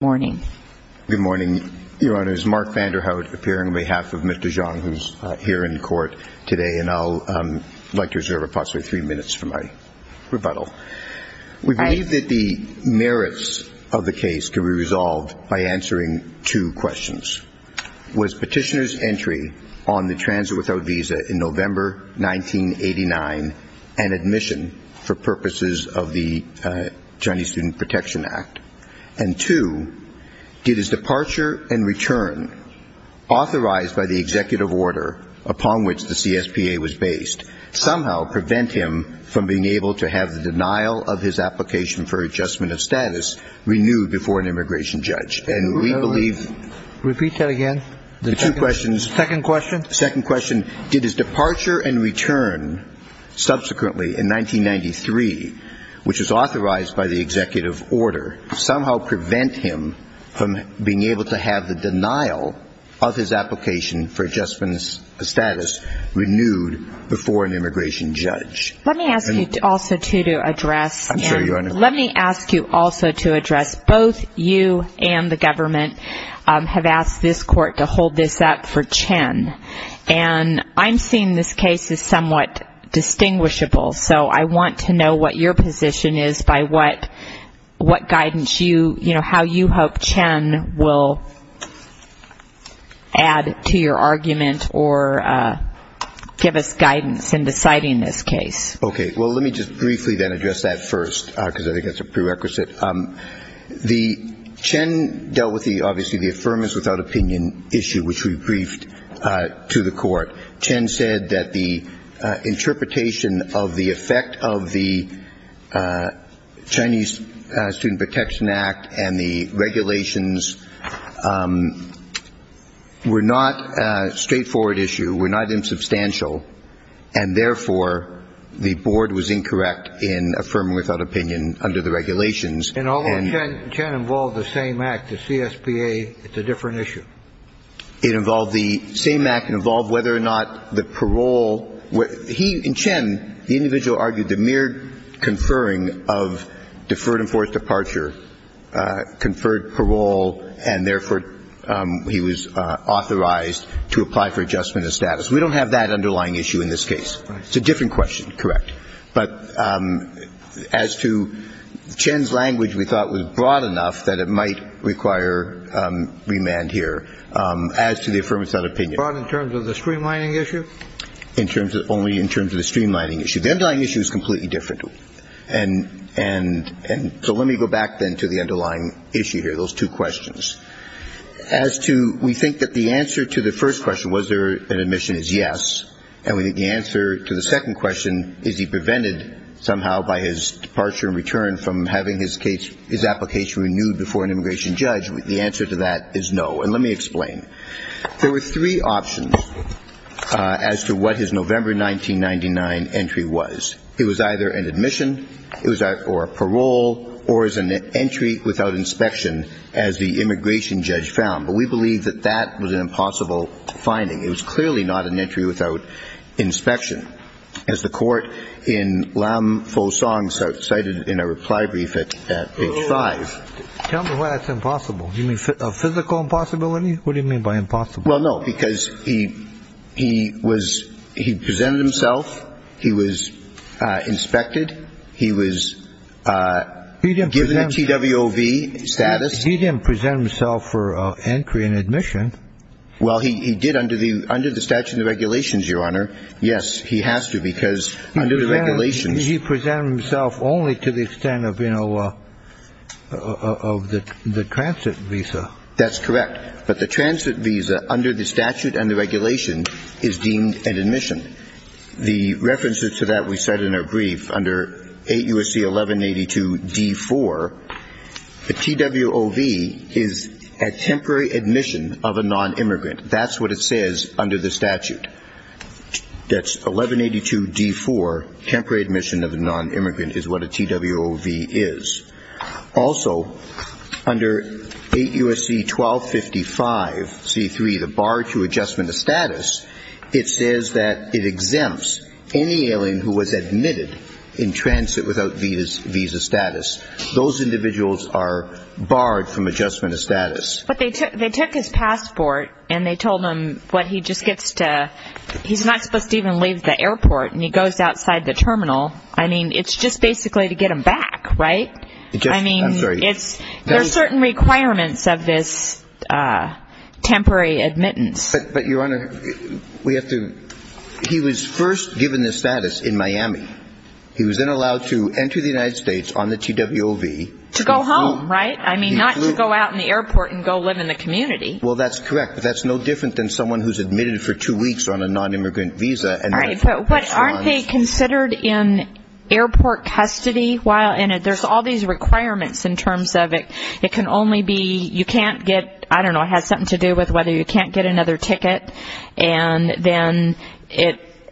Good morning. Good morning, Your Honours. Mark Vanderhout appearing on behalf of Mr. Jiang, who's here in court today, and I'd like to reserve approximately three minutes for my rebuttal. We believe that the merits of the case can be resolved by answering two questions. Was petitioner's entry on the transit without visa in November 1989 an admission for purposes of the Chinese Student Protection Act? And two, did his departure and return, authorized by the executive order upon which the CSPA was based, somehow prevent him from being able to have the denial of his application for adjustment of status renewed before an immigration judge? And we believe... Repeat that again. The two questions. Second question. Second question. Did his departure and return subsequently in 1993, which was authorized by the executive order, somehow prevent him from being able to have the denial of his application for adjustment of status renewed before an immigration judge? Let me ask you also to address... I'm sorry, Your Honour. Let me ask you also to address both you and the government have asked this court to hold this up for Chen. And I'm seeing this case as somewhat distinguishable, so I want to know what your position is by what guidance you, you know, how you hope Chen will add to your argument or give us guidance in deciding this case. Okay. Well, let me just briefly then address that first, because I think that's a prerequisite. The... Chen dealt with the, obviously, the Affirmatives Without Opinion issue, which we briefed to the court. Chen said that the interpretation of the effect of the Chinese Student Protection Act and the regulations were not a straightforward issue, were not insubstantial, and therefore, the board was incorrect in affirming without opinion under the regulations. And although Chen involved the same act, the CSPA, it's a different issue. It involved the same act and involved whether or not the parole... He and Chen, the individual argued the mere conferring of deferred and forced departure conferred parole, and therefore, he was authorized to apply for adjustment of status. We don't have that underlying issue in this case. It's a different question, correct. But as to Chen's language, we thought it was broad enough that it might require remand here. As to the Affirmatives Without Opinion... Broad in terms of the streamlining issue? In terms of only in terms of the streamlining issue. The underlying issue is completely different. And so let me go back then to the underlying issue here, those two questions. As to, we think that the answer to the first question, was there an admission, is yes. And we think the answer to the second question, is he prevented somehow by his departure and return from having his case, his application renewed before an immigration judge? The answer to that is no. And let me explain. There were three options as to what his November 1999 entry was. It was either an admission, or parole, or as an entry without inspection, as the immigration judge found. But we believe that that was an impossible finding. It was clearly not an entry without inspection. As the court in Lam Pho Song cited in a reply brief at page five... Tell me why that's impossible. Do you mean a physical impossibility? What do you mean by impossible? Well, no. Because he presented himself. He was inspected. He was given a TWOV status. He didn't present himself for entry and admission. Well, he did under the statute and the regulations, Your Honor. Yes, he has to, because under the regulations... He presented himself only to the extent of, you know, of the transit visa. That's correct. But the transit visa, under the statute and the regulation, is deemed an admission. The references to that we cite in our brief under 8 U.S.C. 1182 D.4, a TWOV is a temporary admission of a non-immigrant. That's what it says under the statute. That's 1182 D.4, temporary admission of a non-immigrant is what a TWOV is. Also, under 8 U.S.C. 1255 C.3, the bar to status, it says that it exempts any alien who was admitted in transit without visa status. Those individuals are barred from adjustment of status. But they took his passport and they told him what he just gets to... He's not supposed to even leave the airport and he goes outside the terminal. I mean, it's just basically to get him back, right? I mean, there's certain requirements of this temporary admittance. But Your Honor, we have to... He was first given the status in Miami. He was then allowed to enter the United States on the TWOV. To go home, right? I mean, not to go out in the airport and go live in the community. Well, that's correct. But that's no different than someone who's admitted for two weeks on a non-immigrant visa. But aren't they considered in airport custody while in it? There's all these requirements in terms of it. It can only be, you can't get, I don't know, has something to do with whether you can't get another ticket. And then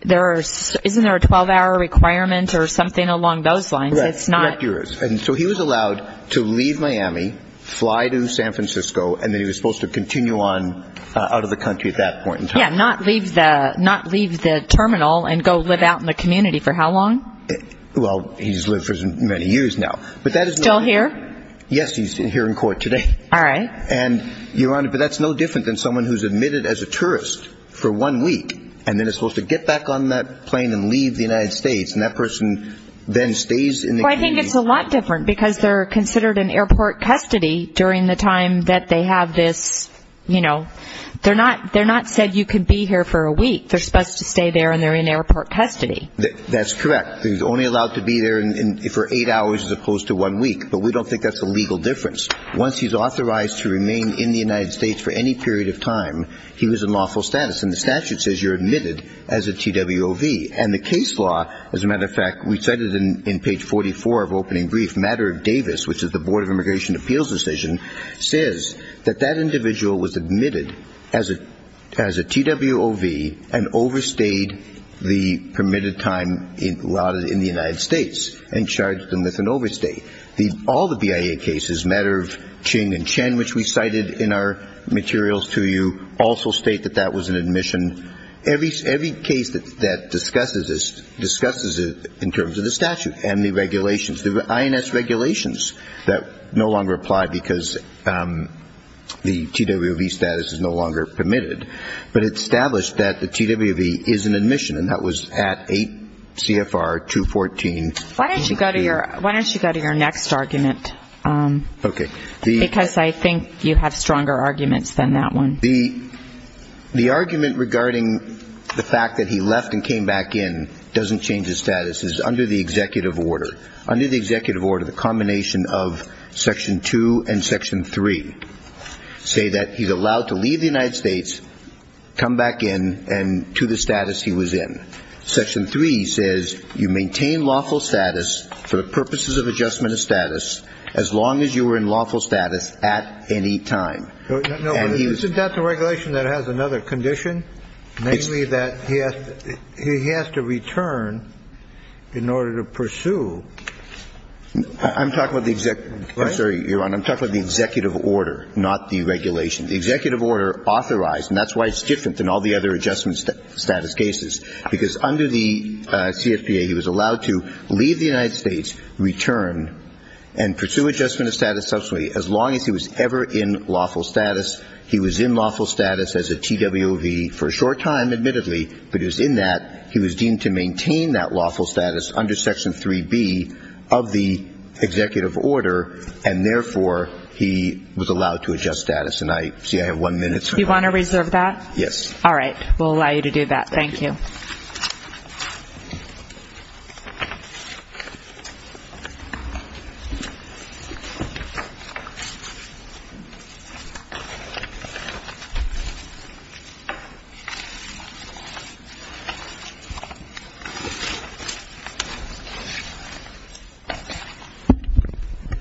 there are... Isn't there a 12-hour requirement or something along those lines? It's not... Correct yours. And so he was allowed to leave Miami, fly to San Francisco, and then he was supposed to continue on out of the country at that point in time. Yeah, not leave the terminal and go live out in the community. For how long? Well, he's lived for many years now. But that is... Still here? Yes, he's here in court today. All right. And Your Honor, but that's no different than someone who's admitted as a tourist for one week and then is supposed to get back on that plane and leave the United States. And that person then stays in the community. Well, I think it's a lot different because they're considered in airport custody during the time that they have this... They're not said you can be here for a week. They're supposed to stay there and they're in airport custody. That's correct. He's only allowed to be there for eight hours as opposed to one week. But we don't think that's a legal difference. Once he's authorized to remain in the United States for any period of time, he was in lawful status. And the statute says you're admitted as a TWOV. And the case law, as a matter of fact, we cited in page 44 of opening brief, matter of Davis, which is the Board of Immigration Appeals decision, says that that individual was admitted as a TWOV and overstayed the permitted time allowed in the United States and charged them with an overstay. All the BIA cases, matter of Ching and Chen, which we cited in our materials to you, also state that that was an admission. Every case that discusses this discusses it in terms of the statute and the regulations. The INS regulations that no longer apply because the TWOV status is no longer permitted. But it's established that the TWOV is an admission and that was at 8 CFR 214. Why don't you go to your next argument? Okay. Because I think you have stronger arguments than that one. The argument regarding the fact that he left and came back in doesn't change his status. It's under the executive order. Under the executive order, the combination of Section 2 and Section 3 say that he's allowed to leave the United States, come back in, and to the status he was in. Section 3 says you maintain lawful status for the purposes of adjustment of status as long as you were in lawful status at any time. No, but isn't that the regulation that has another condition, namely that he has to return in order to pursue? I'm talking about the executive. I'm sorry, Your Honor. I'm talking about the executive order, not the regulation. The executive order authorized, and that's why it's different than all the other adjustment status cases, because under the CFPA he was allowed to leave the United States, return, and pursue adjustment of status subsequently as long as he was ever in lawful status. He was in lawful status as a TWOV for a short time, admittedly, but he was in that. He was deemed to maintain that lawful status under Section 3B of the executive order, and therefore, he was allowed to adjust status. And I see I have one minute. Do you want to reserve that? Yes. All right. We'll allow you to do that. Thank you.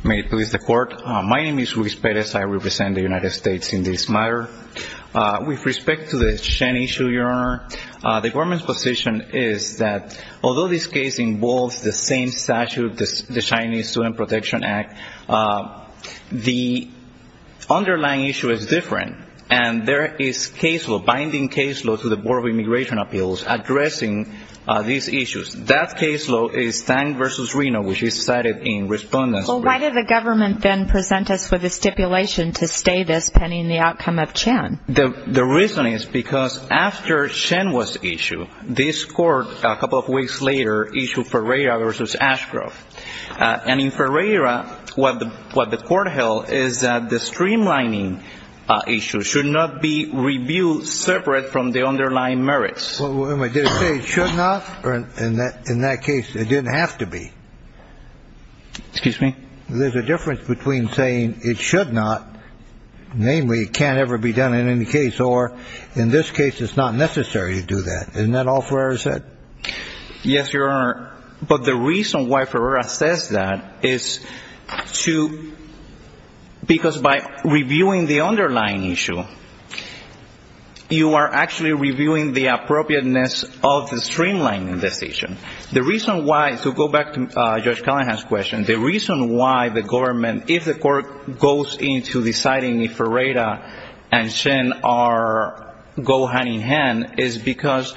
May it please the Court. My name is Luis Perez. I represent the United States in this matter. With respect to the Shen issue, Your Honor, the government's position is that although this case involves the same statute, the Chinese Student Protection Act, the underlying issue is different, and there is case law, binding case law, to the Board of Immigration Appeals addressing these issues. That case law is Thang v. Reno, which is cited in Respondents. Well, why did the government then present us with a stipulation to stay this, depending on the outcome of Chen? The reason is because after Chen was issued, this Court, a couple of weeks later, issued Ferreira v. Ashcroft. And in Ferreira, what the Court held is that the streamlining issue should not be reviewed separate from the underlying merits. Well, wait a minute. Did it say it should not? Or in that case, it didn't have to be? Excuse me? There's a difference between saying it should not, namely it can't ever be done in any case, or in this case, it's not necessary to do that. Isn't that all Ferreira said? Yes, Your Honor. But the reason why Ferreira says that is because by reviewing the underlying issue, you are actually reviewing the appropriateness of the streamlining decision. The reason why, to go back to Judge Callahan's question, the reason why the government, if the Court goes into deciding if Ferreira and Chen go hand-in-hand is because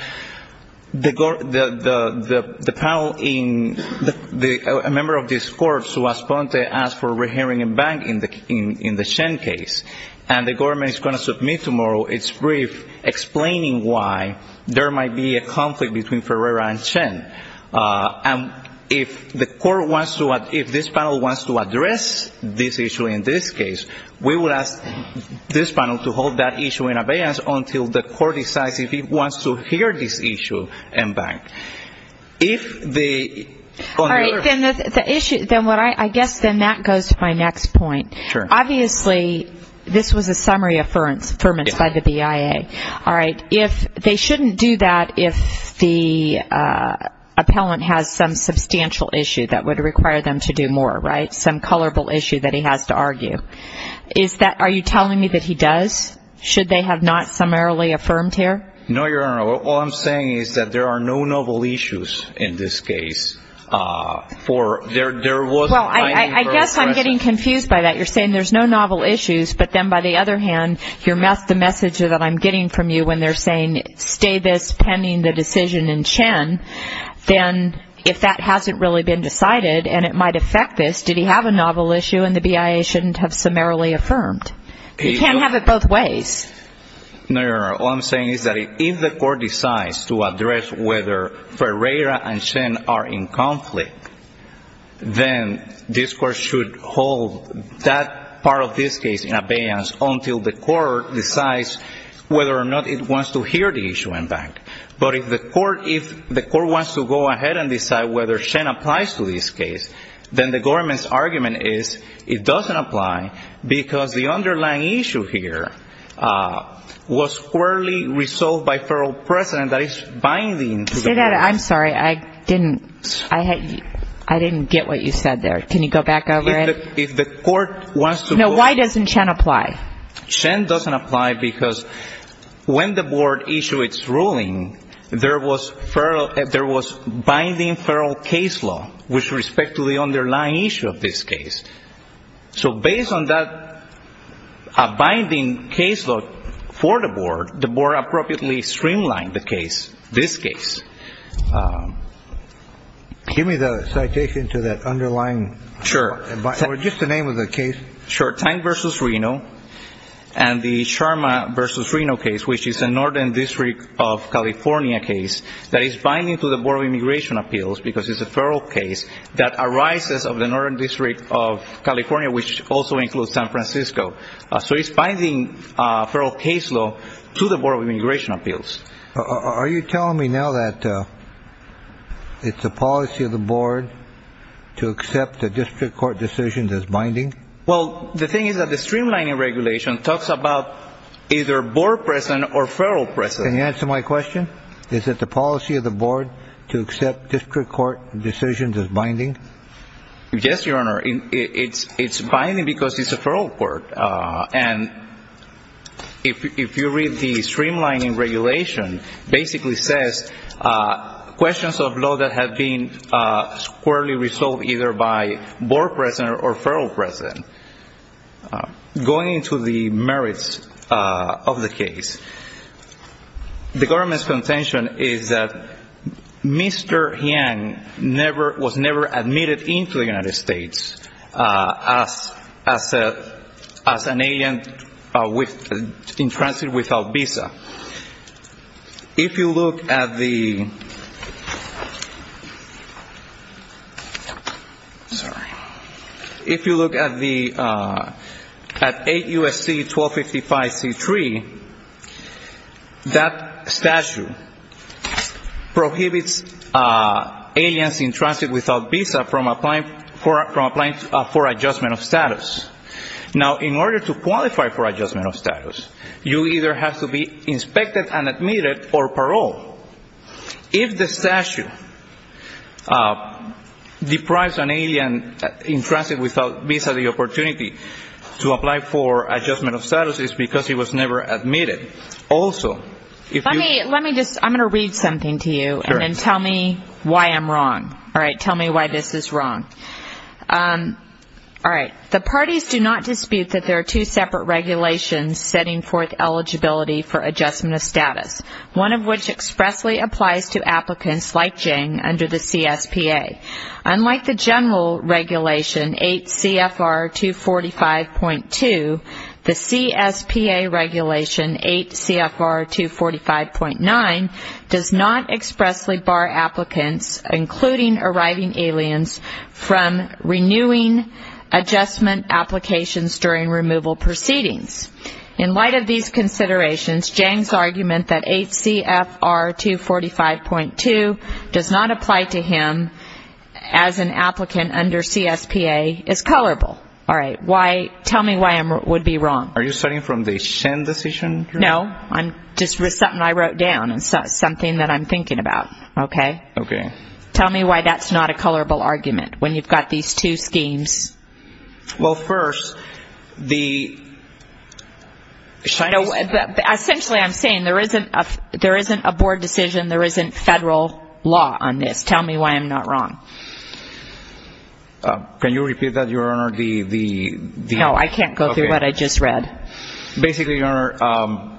the panel, a member of this Court, Suas Ponte, asked for a re-hearing in bank in the Chen case. And the government is going to submit tomorrow its brief explaining why there might be a conflict between Ferreira and Chen. And if the Court wants to, if this panel wants to address this issue in this case, we will ask this panel to hold that issue in abeyance until the Court decides if it wants to hear this issue in bank. If the... All right, then the issue, I guess then that goes to my next point. Obviously, this was a summary affirmance by the BIA. All right, if they shouldn't do that if the appellant has some substantial issue that would require them to do more, right? Some colorable issue that he has to argue. Is that, are you telling me that he does? Should they have not summarily affirmed here? No, Your Honor. All I'm saying is that there are no novel issues in this case. There was... Well, I guess I'm getting confused by that. You're saying there's no novel issues, but then by the other hand, the message that I'm getting from you when they're saying stay this pending the decision in Chen, then if that hasn't really been decided and it might affect this, did he have a novel issue and the BIA shouldn't have summarily affirmed? You can't have it both ways. No, Your Honor. All I'm saying is that if the Court decides to address whether Ferreira and Chen are in conflict, then this Court should hold that part of this case in abeyance until the Court decides whether or not it wants to hear the issue in back. But if the Court wants to go ahead and decide whether Chen applies to this case, then the government's argument is it doesn't apply because the underlying issue here was squarely resolved by federal precedent that is binding. Say that again. I'm sorry. I didn't get what you said there. Can you go back over it? No, why doesn't Chen apply? Chen doesn't apply because when the Board issued its ruling, there was binding federal case law with respect to the underlying issue of this case. So based on that binding case law for the Board, the Board appropriately streamlined the case, this case. Give me the citation to that underlying. Sure. Just the name of the case. Sure. Time versus Reno and the Sharma versus Reno case, which is a Northern District of California case that is binding to the Board of Immigration Appeals because it's a federal case that arises of the Northern District of California, which also includes San Francisco. So it's binding federal case law to the Board of Immigration Appeals. Are you telling me now that it's the policy of the Board to accept the District Court decisions as binding? Well, the thing is that the streamlining regulation talks about either Board precedent or federal precedent. Can you answer my question? Is it the policy of the Board to accept District Court decisions as binding? Yes, Your Honor. It's binding because it's a federal court. And if you read the streamlining regulation, it basically says questions of law that have been squarely resolved either by Board precedent or federal precedent. Going into the merits of the case, the government's contention is that Mr. Yang was never admitted into the United States as an alien in transit without visa. If you look at the, sorry, if you look at the, at 8 U.S.C. 1255 C-3, that statute prohibits aliens in transit without visa from applying for adjustment of status. Now, in order to qualify for inspected and admitted for parole, if the statute deprives an alien in transit without visa the opportunity to apply for adjustment of status, it's because he was never admitted. Also, if you Let me just, I'm going to read something to you and then tell me why I'm wrong. All right. Tell me why this is wrong. All right. The parties do not dispute that there are two separate regulations setting forth eligibility for adjustment of status, one of which expressly applies to applicants like Yang under the CSPA. Unlike the general regulation 8 CFR 245.2, the CSPA regulation 8 CFR 245.9 does not expressly bar applicants, including arriving aliens, from renewing adjustment applications during removal proceedings. In light of these considerations, Yang's argument that 8 CFR 245.2 does not apply to him as an applicant under CSPA is colorable. All right. Why, tell me why I would be wrong. Are you starting from the Shen decision? No. Just something I wrote down and something that I'm thinking about. Okay? Okay. Tell me why that's not a colorable argument when you've got these two schemes. Well, first, the Essentially, I'm saying there isn't a board decision, there isn't federal law on this. Tell me why I'm not wrong. Can you repeat that, Your Honor? No, I can't go through what I just read. Basically, Your Honor,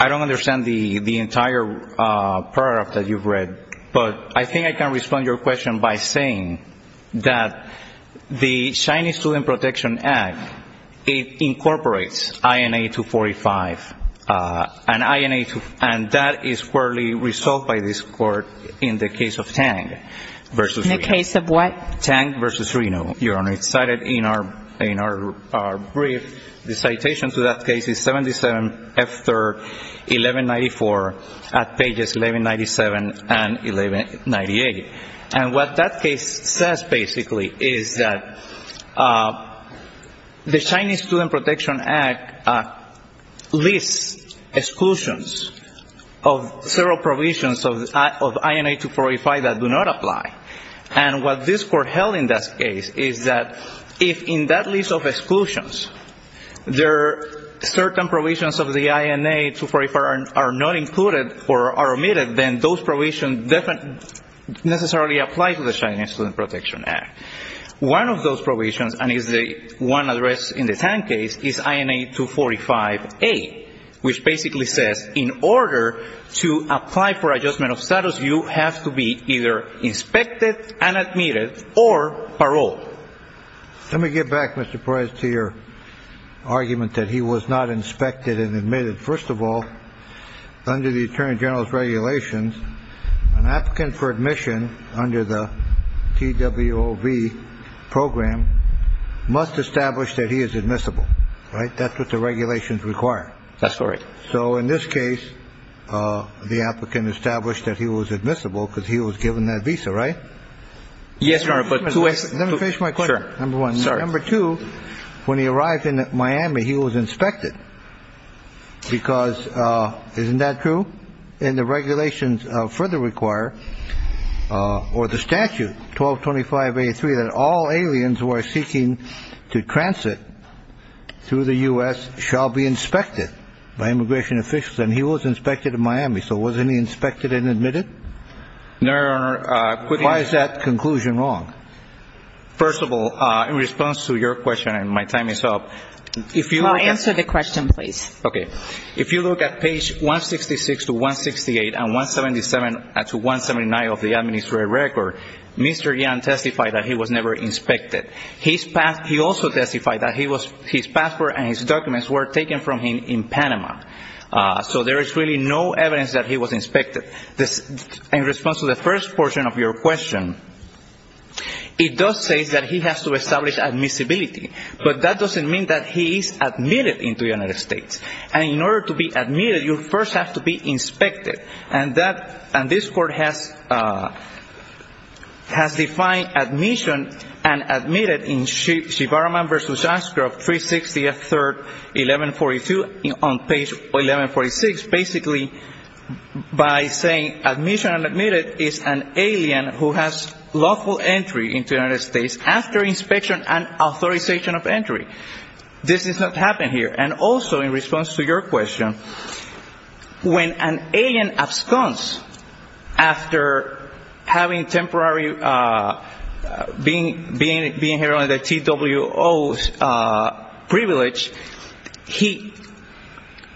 I don't understand the entire paragraph that you've read, but I think I can respond to your question by saying that the Chinese Student Protection Act, it incorporates INA 245, and INA 245, and that is currently resolved by this Court in the case of Tang versus Reno. In the case of what? Tang versus Reno, Your Honor. It's cited in our brief. The citation to that case is 77 F. 3rd 1194 at pages 1197 and 1198. And what that case says, basically, is that the Chinese Student Protection Act lists exclusions of several provisions of INA 245 that do not apply. And what this Court held in that case is that if in that list of exclusions, there are certain provisions of the INA 245 that are not necessarily applied to the Chinese Student Protection Act. One of those provisions, and is the one address in the Tang case, is INA 245A, which basically says in order to apply for adjustment of status, you have to be either inspected and admitted or paroled. Let me get back, Mr. Perez, to your argument that he was not inspected and paroled. In the regulations, an applicant for admission under the TWOV program must establish that he is admissible, right? That's what the regulations require. That's correct. So in this case, the applicant established that he was admissible because he was given that visa, right? Yes, Your Honor, but two... Let me finish my question. Number one. Number two, when he arrived in Miami, he was inspected because, isn't that true? And the regulations further require, or the statute, 1225A3, that all aliens who are seeking to transit through the U.S. shall be inspected by immigration officials. And he was inspected in Miami. So wasn't he inspected and admitted? No, Your Honor. Why is that conclusion wrong? First of all, in response to your question, and my time is up, if you... Well, answer the question, please. Okay. If you look at page 166 to 168 and 177 to 179 of the administrative record, Mr. Yang testified that he was never inspected. He also testified that his passport and his documents were taken from him in Panama. So there is really no evidence that he was inspected. In response to the first portion of your question, it does say that he has to establish admissibility, but that doesn't mean that he is admitted into the United States. And in order to be admitted, you first have to be inspected. And this court has defined admission and admitted in Shibaraman v. Ashcroft, 360 F. 3rd, 1142, on page 1146, basically by saying admission and admitted is an alien who has lawful entry into the United States. This does not happen here. And also, in response to your question, when an alien absconds after having temporary... being here under T.W.O. privilege,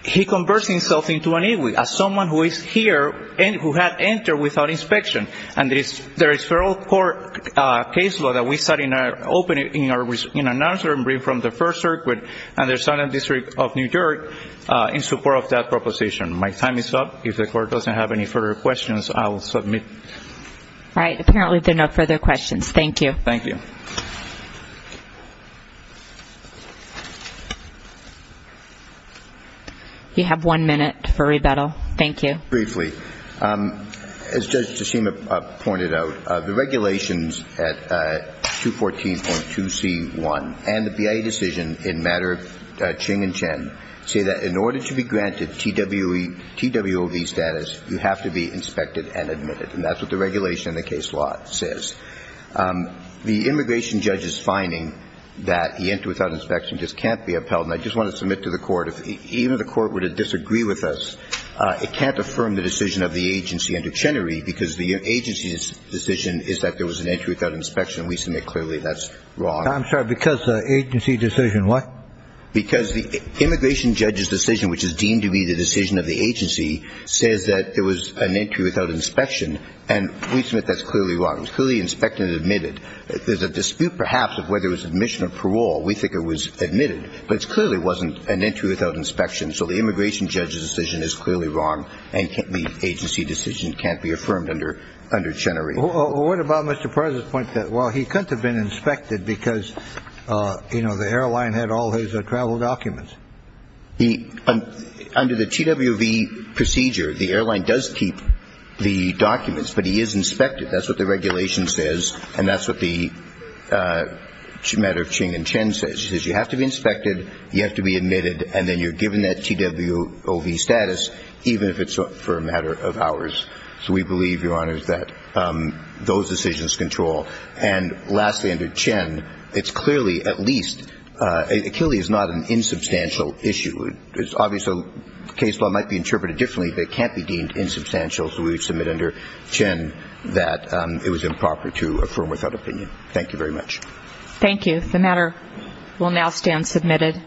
he converts himself into an Igui, as someone who is here, who had entered without inspection. And there is federal court case law that we set in our... in our... in our... from the First Circuit and the Southern District of New York in support of that proposition. My time is up. If the court doesn't have any further questions, I will submit. All right. Apparently, there are no further questions. Thank you. Thank you. You have one minute for rebuttal. Thank you. Briefly, as Judge Tsushima pointed out, the regulations at 214.2c.1 and the BIA decision in matter of Ching and Chen say that in order to be granted T.W.O.V. status, you have to be inspected and admitted. And that's what the regulation in the case law says. The immigration judge's finding that he entered without inspection just can't be upheld. And I just want to submit to the court, even if the court were to disagree with us, it can't affirm the decision of the agency under Chenery, because the agency's decision is that there was an entry without inspection. We submit clearly that's wrong. I'm sorry, because the agency decision what? Because the immigration judge's decision, which is deemed to be the decision of the agency, says that there was an entry without inspection. And we submit that's clearly wrong. It was clearly inspected and admitted. There's a dispute, perhaps, of whether it was admission or parole. We think it was admitted. But it clearly wasn't an entry without inspection. So the immigration judge's decision is clearly wrong. And the agency decision can't be affirmed under Chenery. Well, what about Mr. President's point that, well, he couldn't have been inspected because, you know, the airline had all his travel documents? Under the T.W.O.V. procedure, the airline does keep the documents, but he is inspected. That's what the regulation says. And that's what the matter of Ching and Chen says. She says you have to be inspected, you have to be admitted, and then you're given that T.W.O.V. status, even if it's for a matter of hours. So we believe, Your Honors, that those decisions control. And lastly, under Chen, it's clearly, at least, Achilles is not an insubstantial issue. It's obvious a case law might be interpreted differently, but it can't be deemed insubstantial. So we submit under Chen that it was improper to affirm without opinion. Thank you very much. Thank you. The matter will now stand submitted.